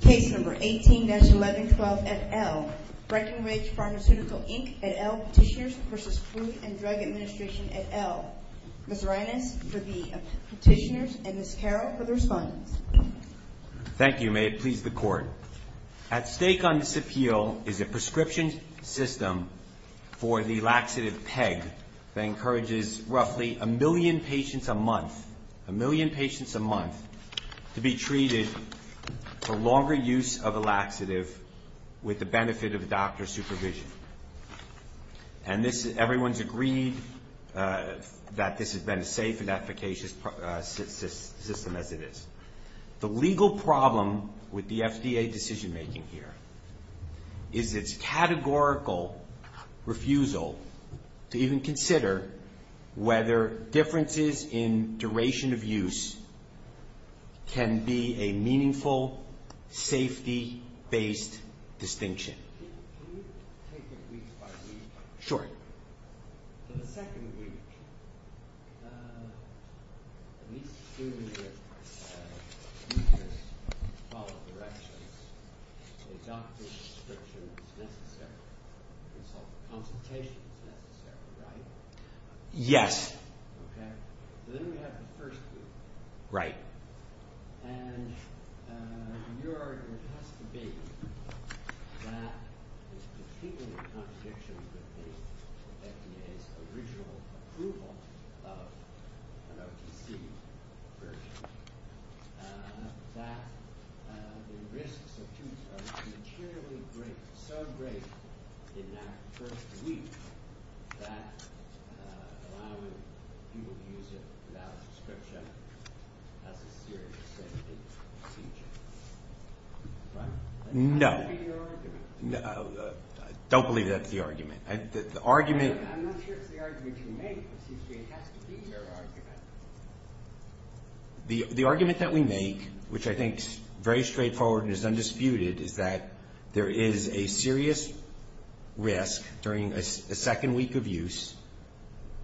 Case number 18-1112 et al. Breckenridge Pharmaceutical Inc. et al. Petitioners v. Food and Drug Administration et al. Ms. Reines for the petitioners and Ms. Carroll for the respondents. Thank you. May it please the Court. At stake on this appeal is a prescription system for the laxative PEG that encourages roughly a million patients a month to be treated for longer use of a laxative with the benefit of a doctor's supervision. And everyone has agreed that this has been as safe and efficacious a system as it is. The legal problem with the FDA decision-making here is its categorical refusal to even consider whether differences in duration of use can be a meaningful safety-based distinction. Can you take it week by week? Sure. For the second week, at least assuming that you just follow directions, a doctor's prescription is necessary, consultations necessary, right? Yes. Okay. So then we have the first week. Right. And your argument has to be that there's a significant contradiction with the FDA's original approval of an OTC version, that the risks of use are materially great, so great in that first week that allowing people to use it without a prescription has a serious safety issue, right? No. That has to be your argument. I don't believe that's the argument. I'm not sure it's the argument you make, but it seems to me it has to be your argument. The argument that we make, which I think is very straightforward and is undisputed, is that there is a serious risk during a second week of use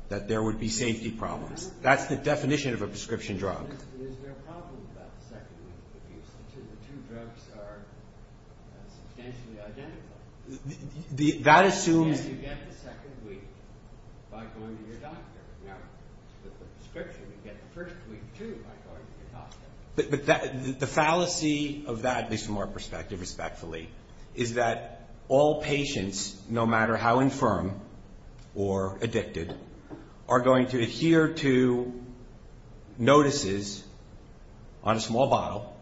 that there would be safety problems. That's the definition of a prescription drug. Is there a problem about the second week of use? The two drugs are substantially identical. That assumes you get the second week by going to your doctor. Now, with the prescription, you get the first week, too, by going to your doctor. The fallacy of that, at least from our perspective, respectfully, is that all patients, no matter how infirm or addicted, are going to adhere to notices on a small bottle.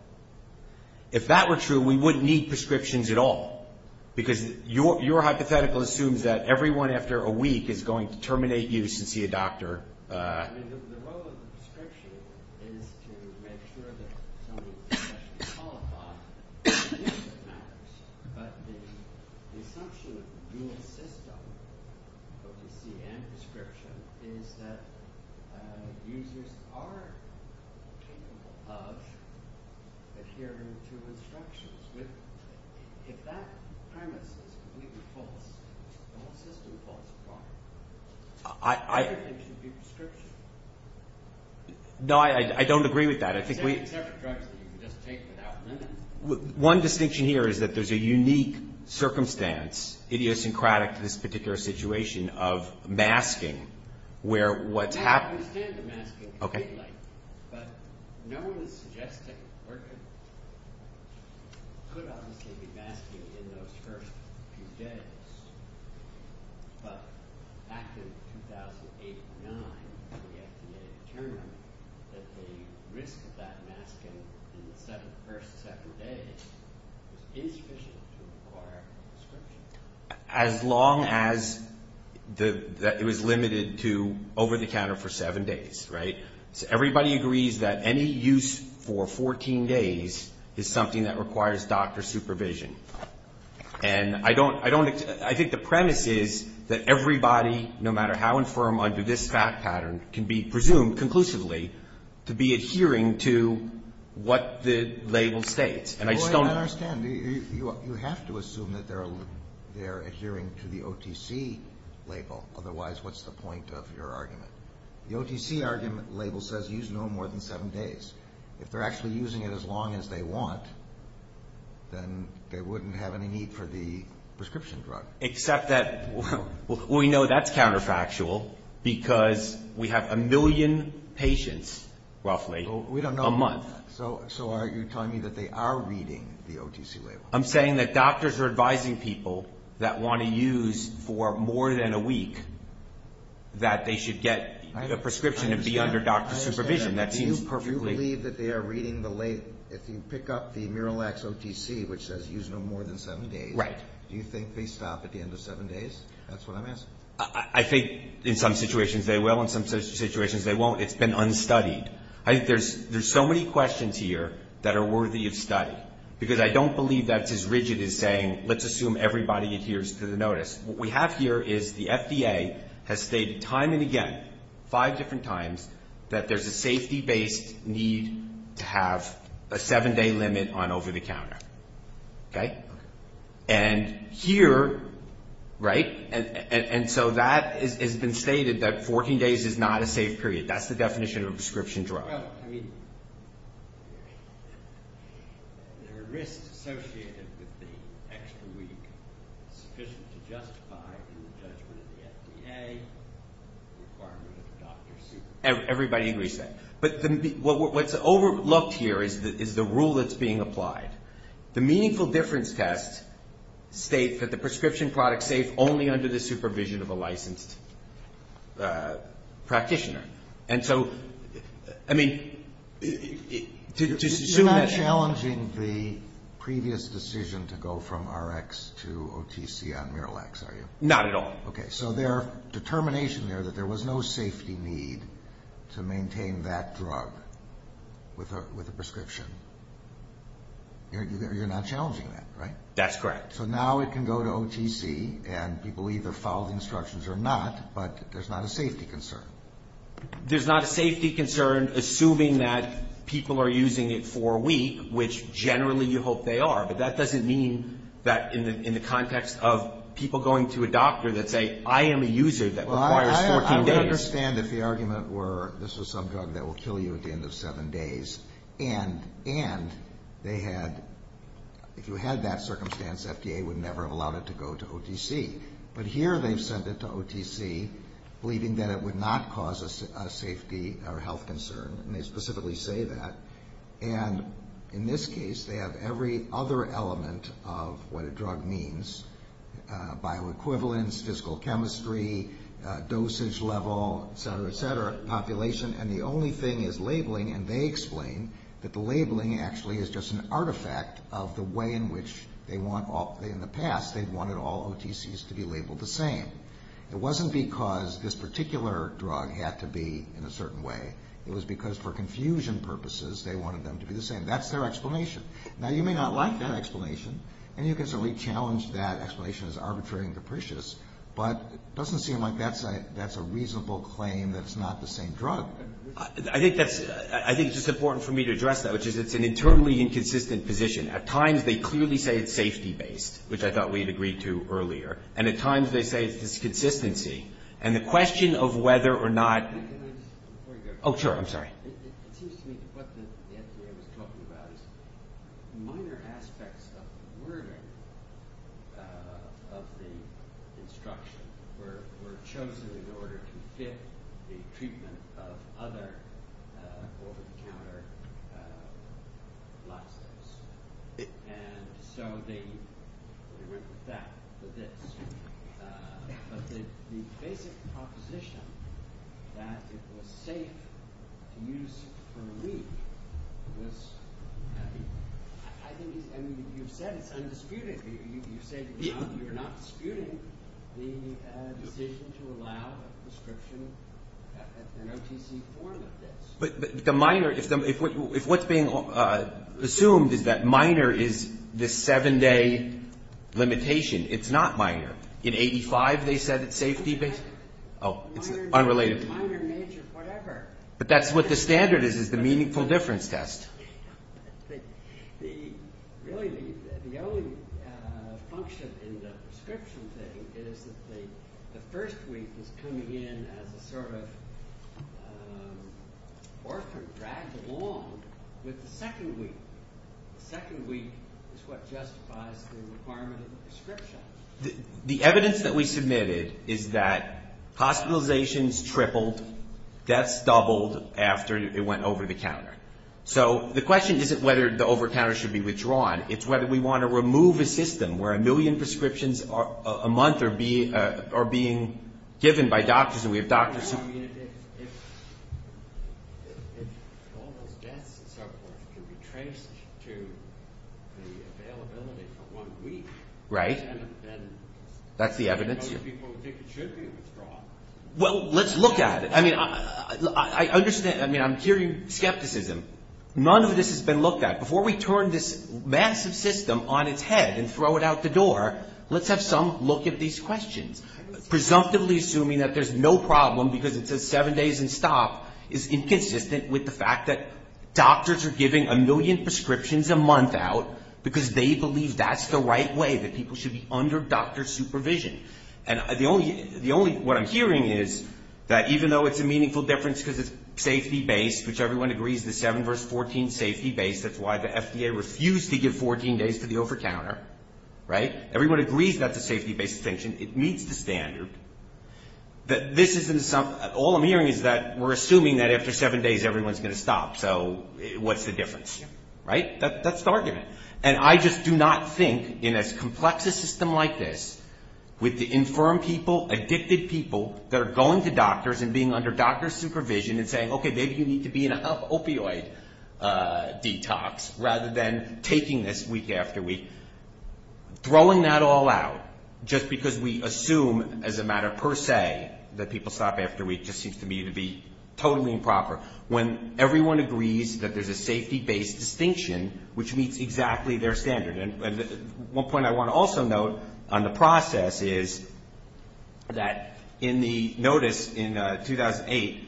If that were true, we wouldn't need prescriptions at all, because your hypothetical assumes that everyone after a week is going to terminate use and see a doctor. The role of the prescription is to make sure that someone is sufficiently qualified to adhere to the matters, but the assumption of a dual system, OTC and prescription, is that users are capable of adhering to instructions. If that premise is completely false, the whole system falls apart. Everything should be prescription. No, I don't agree with that. Except for drugs that you can just take without limits. One distinction here is that there's a unique circumstance, idiosyncratic to this particular situation, of masking. I understand the masking completely, but no one is suggesting we're going to. There could obviously be masking in those first few days, but back in 2008 or 2009, the FDA determined that the risk of that masking in the first seven days was insufficient to require a prescription. As long as it was limited to over-the-counter for seven days, right? So everybody agrees that any use for 14 days is something that requires doctor supervision. And I think the premise is that everybody, no matter how infirm under this fact pattern, can be presumed conclusively to be adhering to what the label states. And I just don't understand. You have to assume that they're adhering to the OTC label. Otherwise, what's the point of your argument? The OTC argument label says use no more than seven days. If they're actually using it as long as they want, then they wouldn't have any need for the prescription drug. Except that we know that's counterfactual because we have a million patients, roughly, a month. So are you telling me that they are reading the OTC label? I'm saying that doctors are advising people that want to use for more than a week, that they should get a prescription and be under doctor supervision. That seems perfectly. Do you believe that they are reading the label? If you pick up the Miralax OTC, which says use no more than seven days. Right. Do you think they stop at the end of seven days? That's what I'm asking. I think in some situations they will, in some situations they won't. It's been unstudied. There's so many questions here that are worthy of study. Because I don't believe that's as rigid as saying let's assume everybody adheres to the notice. What we have here is the FDA has stated time and again, five different times, that there's a safety-based need to have a seven-day limit on over-the-counter. And here, right, and so that has been stated that 14 days is not a safe period. That's the definition of a prescription drug. Well, I mean, there are risks associated with the extra week sufficient to justify the judgment of the FDA requirement of doctor supervision. Everybody agrees with that. But what's overlooked here is the rule that's being applied. The meaningful difference test states that the prescription product is safe only under the supervision of a licensed practitioner. And so, I mean, to assume that. You're not challenging the previous decision to go from Rx to OTC on Miralax, are you? Not at all. Okay. So their determination there that there was no safety need to maintain that drug with a prescription, you're not challenging that, right? That's correct. So now it can go to OTC and people either follow the instructions or not, but there's not a safety concern. There's not a safety concern assuming that people are using it for a week, which generally you hope they are. But that doesn't mean that in the context of people going to a doctor that say, I am a user that requires 14 days. Well, I understand if the argument were this was some drug that will kill you at the end of seven days. And they had, if you had that circumstance, FDA would never have allowed it to go to OTC. But here they've sent it to OTC believing that it would not cause a safety or health concern, and they specifically say that. And in this case, they have every other element of what a drug means, bioequivalence, physical chemistry, dosage level, et cetera, et cetera, population. And the only thing is labeling. And they explain that the labeling actually is just an artifact of the way in which they want, in the past they wanted all OTCs to be labeled the same. It wasn't because this particular drug had to be in a certain way. It was because for confusion purposes they wanted them to be the same. That's their explanation. Now, you may not like that explanation, and you can certainly challenge that explanation as arbitrary and capricious, but it doesn't seem like that's a reasonable claim that it's not the same drug. I think that's, I think it's just important for me to address that, which is it's an internally inconsistent position. At times they clearly say it's safety-based, which I thought we had agreed to earlier. And at times they say it's disconsistency. And the question of whether or not. Can I just, before you go. Oh, sure, I'm sorry. It seems to me that what the FDA was talking about is minor aspects of the wording of the instruction were chosen in order to fit the treatment of other over-the-counter laxatives. And so they went with that, with this. But the basic proposition that it was safe to use for a week was, I think, I mean, you've said it's undisputed. You've said you're not disputing the decision to allow a prescription at the OTC form of this. But the minor, if what's being assumed is that minor is this seven-day limitation, it's not minor. In 85 they said it's safety-based. Oh, it's unrelated. Minor, major, whatever. But that's what the standard is, is the meaningful difference test. Really the only function in the prescription thing is that the first week is coming in as a sort of orphan dragged along with the second week. The second week is what justifies the requirement of the prescription. The evidence that we submitted is that hospitalizations tripled, deaths doubled after it went over-the-counter. So the question isn't whether the over-the-counter should be withdrawn. It's whether we want to remove a system where a million prescriptions a month are being given by doctors and we have doctors. I mean, if all those deaths and so forth could be traced to the availability for one week. Right. And then those people would think it should be withdrawn. Well, let's look at it. I mean, I'm hearing skepticism. None of this has been looked at. Before we turn this massive system on its head and throw it out the door, let's have some look at these questions. Presumptively assuming that there's no problem because it says seven days and stop is inconsistent with the fact that doctors are giving a million prescriptions a month out because they believe that's the right way that people should be under doctor supervision. And the only, what I'm hearing is that even though it's a meaningful difference because it's safety-based, which everyone agrees is 7 v. 14 safety-based. That's why the FDA refused to give 14 days to the over-the-counter. Right? Everyone agrees that's a safety-based distinction. It meets the standard. This isn't some, all I'm hearing is that we're assuming that after seven days everyone's going to stop. So what's the difference? Right? That's the argument. And I just do not think in as complex a system like this with the infirm people, addicted people that are going to doctors and being under doctor supervision and saying, okay, maybe you need to be in an opioid detox rather than taking this week after week, throwing that all out just because we assume as a matter per se that people stop after a week just seems to me to be totally improper. When everyone agrees that there's a safety-based distinction, which meets exactly their standard. And one point I want to also note on the process is that in the notice in 2008,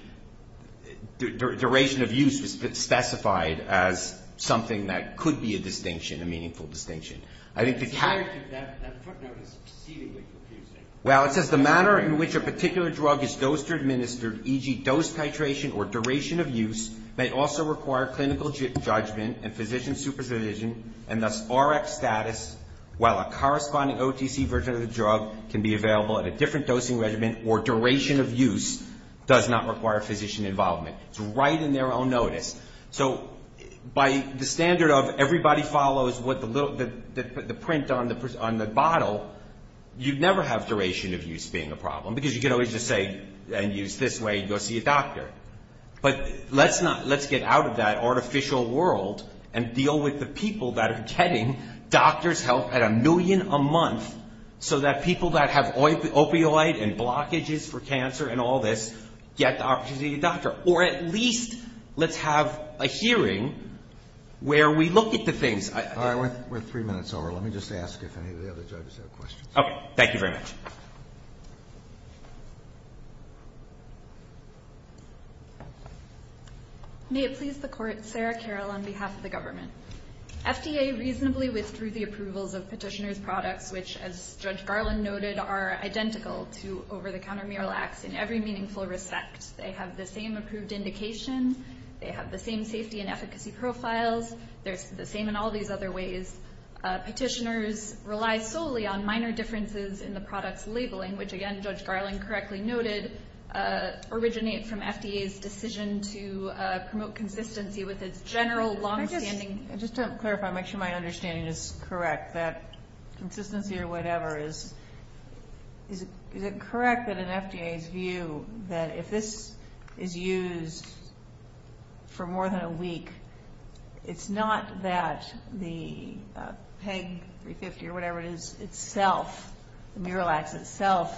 duration of use was specified as something that could be a distinction, a meaningful distinction. I think the character of that footnote is exceedingly confusing. Well, it says the manner in which a particular drug is dosed or administered, e.g., dose titration or duration of use, may also require clinical judgment and physician supervision and thus Rx status while a corresponding OTC version of the drug can be available at a different dosing regimen or duration of use does not require physician involvement. It's right in their own notice. So by the standard of everybody follows what the print on the bottle, you'd never have duration of use being a problem because you could always just say and use this way and go see a doctor. But let's get out of that artificial world and deal with the people that are getting doctor's help at a million a month so that people that have opioid and blockages for cancer and all this get the opportunity to get a doctor. Or at least let's have a hearing where we look at the things. All right. We're three minutes over. Let me just ask if any of the other judges have questions. Okay. Thank you very much. May it please the Court. Sarah Carroll on behalf of the government. FDA reasonably withdrew the approvals of petitioner's products, which, as Judge Garland noted, are identical to over-the-counter mural acts in every meaningful respect. They have the same approved indication. They have the same safety and efficacy profiles. They're the same in all these other ways. Petitioners rely solely on minor differences in the product's labeling, which, again, Judge Garland correctly noted, originate from FDA's decision to promote consistency with its general longstanding. Just to clarify and make sure my understanding is correct, that consistency or whatever is, is it correct that an FDA's view that if this is used for more than a week, it's not that the PEG-350 or whatever it is itself, the mural acts itself,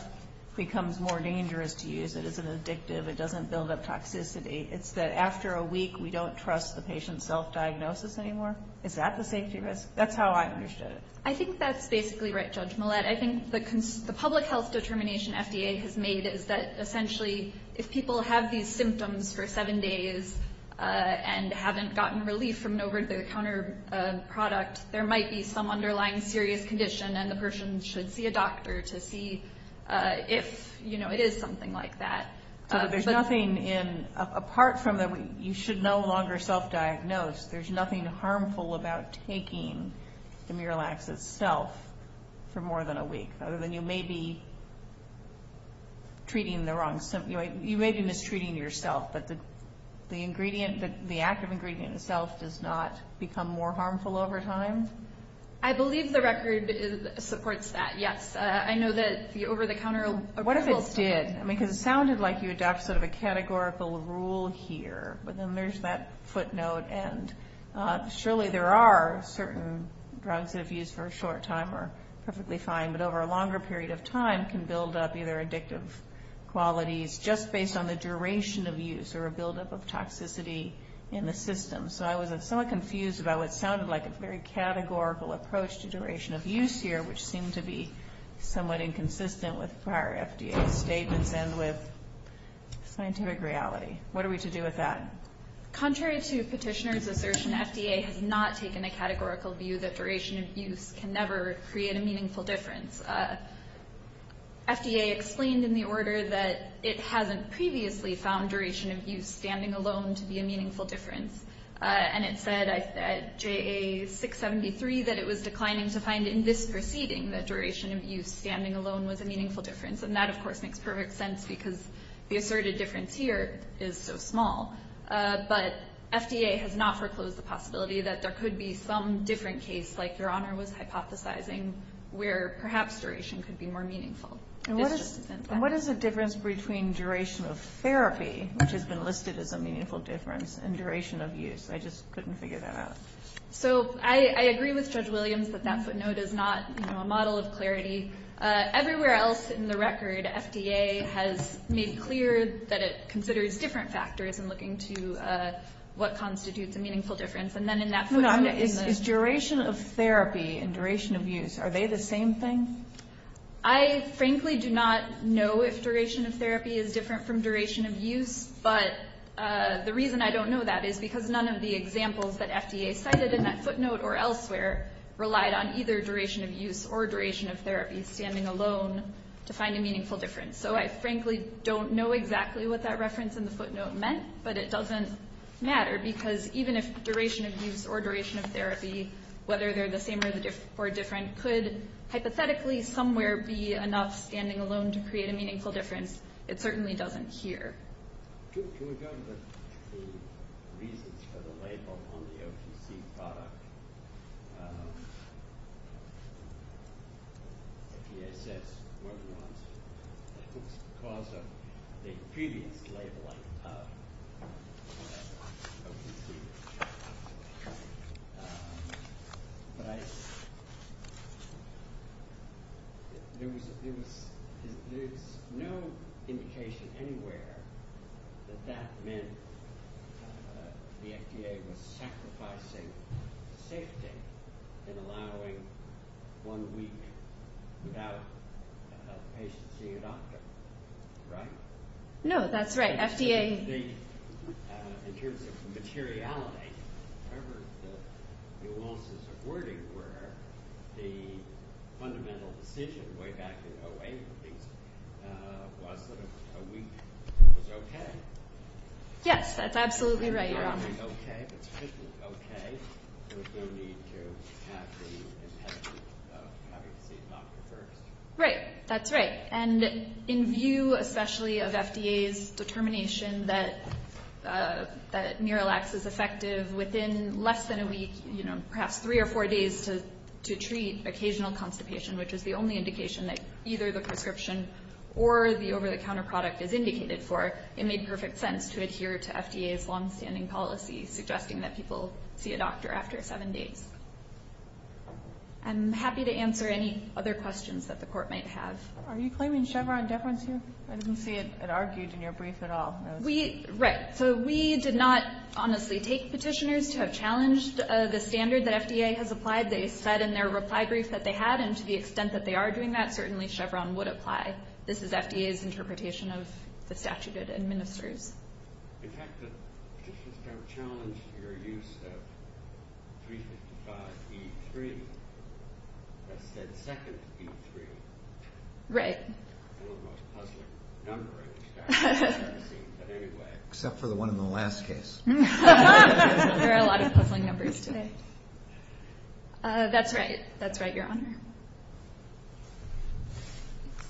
becomes more dangerous to use. It isn't addictive. It doesn't build up toxicity. It's that after a week, we don't trust the patient's self-diagnosis anymore? Is that the safety risk? That's how I understood it. I think that's basically right, Judge Millett. I think the public health determination FDA has made is that, essentially, if people have these symptoms for seven days and haven't gotten relief from an over-the-counter product, there might be some underlying serious condition, and the person should see a doctor to see if, you know, it is something like that. So there's nothing in, apart from that you should no longer self-diagnose, there's nothing harmful about taking the mural acts itself for more than a week, other than you may be treating the wrong, you may be mistreating yourself, but the ingredient, the active ingredient itself does not become more harmful over time? I believe the record supports that, yes. I know that the over-the-counter... What if it did? I mean, because it sounded like you adopted sort of a categorical rule here, but then there's that footnote, and surely there are certain drugs that if used for a short time are perfectly fine, but over a longer period of time can build up either addictive qualities just based on the duration of use or a buildup of toxicity in the system. So I was somewhat confused about what sounded like a very categorical approach to duration of use here, which seemed to be somewhat inconsistent with prior FDA statements and with scientific reality. What are we to do with that? Contrary to petitioner's assertion, FDA has not taken a categorical view that duration of use can never create a meaningful difference. FDA explained in the order that it hasn't previously found duration of use standing alone to be a meaningful difference, and it said at JA673 that it was declining to find in this proceeding that duration of use standing alone was a meaningful difference. And that, of course, makes perfect sense because the asserted difference here is so small. But FDA has not foreclosed the possibility that there could be some different case, like Your Honor was hypothesizing, where perhaps duration could be more meaningful. And what is the difference between duration of therapy, which has been listed as a meaningful difference, and duration of use? I just couldn't figure that out. So I agree with Judge Williams that that footnote is not a model of clarity. Everywhere else in the record, FDA has made clear that it considers different factors in looking to what constitutes a meaningful difference. And then in that footnote is the – No, no. Is duration of therapy and duration of use, are they the same thing? I frankly do not know if duration of therapy is different from duration of use. But the reason I don't know that is because none of the examples that FDA cited in that footnote or elsewhere relied on either duration of use or duration of therapy standing alone to find a meaningful difference. So I frankly don't know exactly what that reference in the footnote meant, but it doesn't matter because even if duration of use or duration of therapy, whether they're the same or different, could hypothetically somewhere be enough standing alone to create a meaningful difference? It certainly doesn't here. Can we go to the reasons for the label on the OTC product? FDA says more than once that it's because of the previous labeling of that OTC product. But there's no indication anywhere that that meant the FDA was sacrificing safety in allowing one week without a patient seeing a doctor, right? No, that's right. In terms of materiality, whatever the nuances of wording were, the fundamental decision way back in 2008 was that a week was okay. Yes, that's absolutely right, Your Honor. A week was okay, but there was no need to have the impediment of having to see a doctor first. Right, that's right. And in view especially of FDA's determination that Miralax is effective within less than a week, perhaps three or four days to treat occasional constipation, which is the only indication that either the prescription or the over-the-counter product is indicated for, it made perfect sense to adhere to FDA's longstanding policy suggesting that people see a doctor after seven days. I'm happy to answer any other questions that the Court might have. Are you claiming Chevron deference here? I didn't see it argued in your brief at all. Right. So we did not honestly take petitioners to have challenged the standard that FDA has applied. They said in their reply brief that they had, and to the extent that they are doing that, certainly Chevron would apply. This is FDA's interpretation of the statute it administers. In fact, the petitions don't challenge your use of 355E3. That said second E3. Right. The most puzzling number in the statute, it seems, in any way. Except for the one in the last case. There are a lot of puzzling numbers today. That's right. That's right, Your Honor.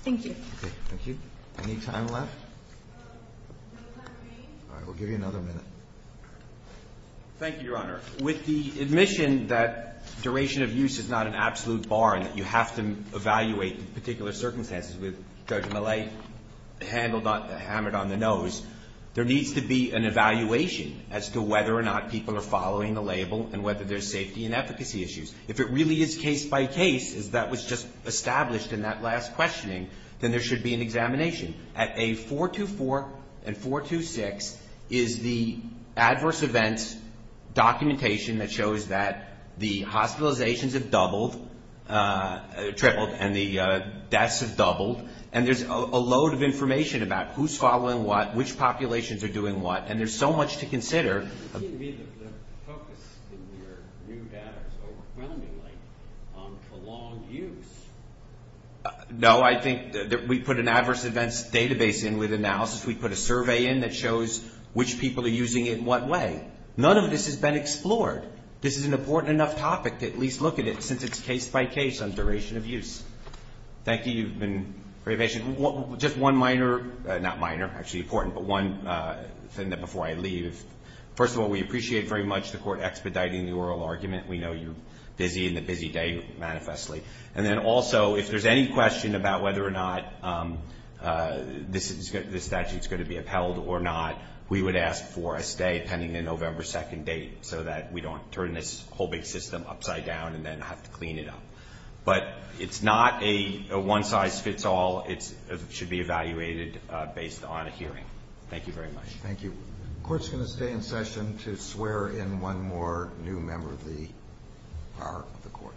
Thank you. Thank you. Any time left? All right. We'll give you another minute. Thank you, Your Honor. With the admission that duration of use is not an absolute bar and that you have to evaluate particular circumstances, with Judge Millay hammered on the nose, there needs to be an evaluation as to whether or not people are following the label and whether there's safety and efficacy issues. If it really is case by case, as that was just established in that last questioning, then there should be an examination. At A424 and 426 is the adverse events documentation that shows that the hospitalizations have doubled, tripled, and the deaths have doubled. And there's a load of information about who's following what, which populations are doing what. And there's so much to consider. The focus in your new data is overwhelmingly on prolonged use. No. I think that we put an adverse events database in with analysis. We put a survey in that shows which people are using it in what way. None of this has been explored. This is an important enough topic to at least look at it since it's case by case on duration of use. Thank you. You've been very patient. Just one minor, not minor, actually important, but one thing before I leave. First of all, we appreciate very much the Court expediting the oral argument. We know you're busy in the busy day, manifestly. And then also, if there's any question about whether or not this statute is going to be upheld or not, we would ask for a stay pending the November 2nd date so that we don't turn this whole big system upside down and then have to clean it up. But it's not a one size fits all. It should be evaluated based on a hearing. Thank you very much. Thank you. The Court's going to stay in session to swear in one more new member of the power of the Court.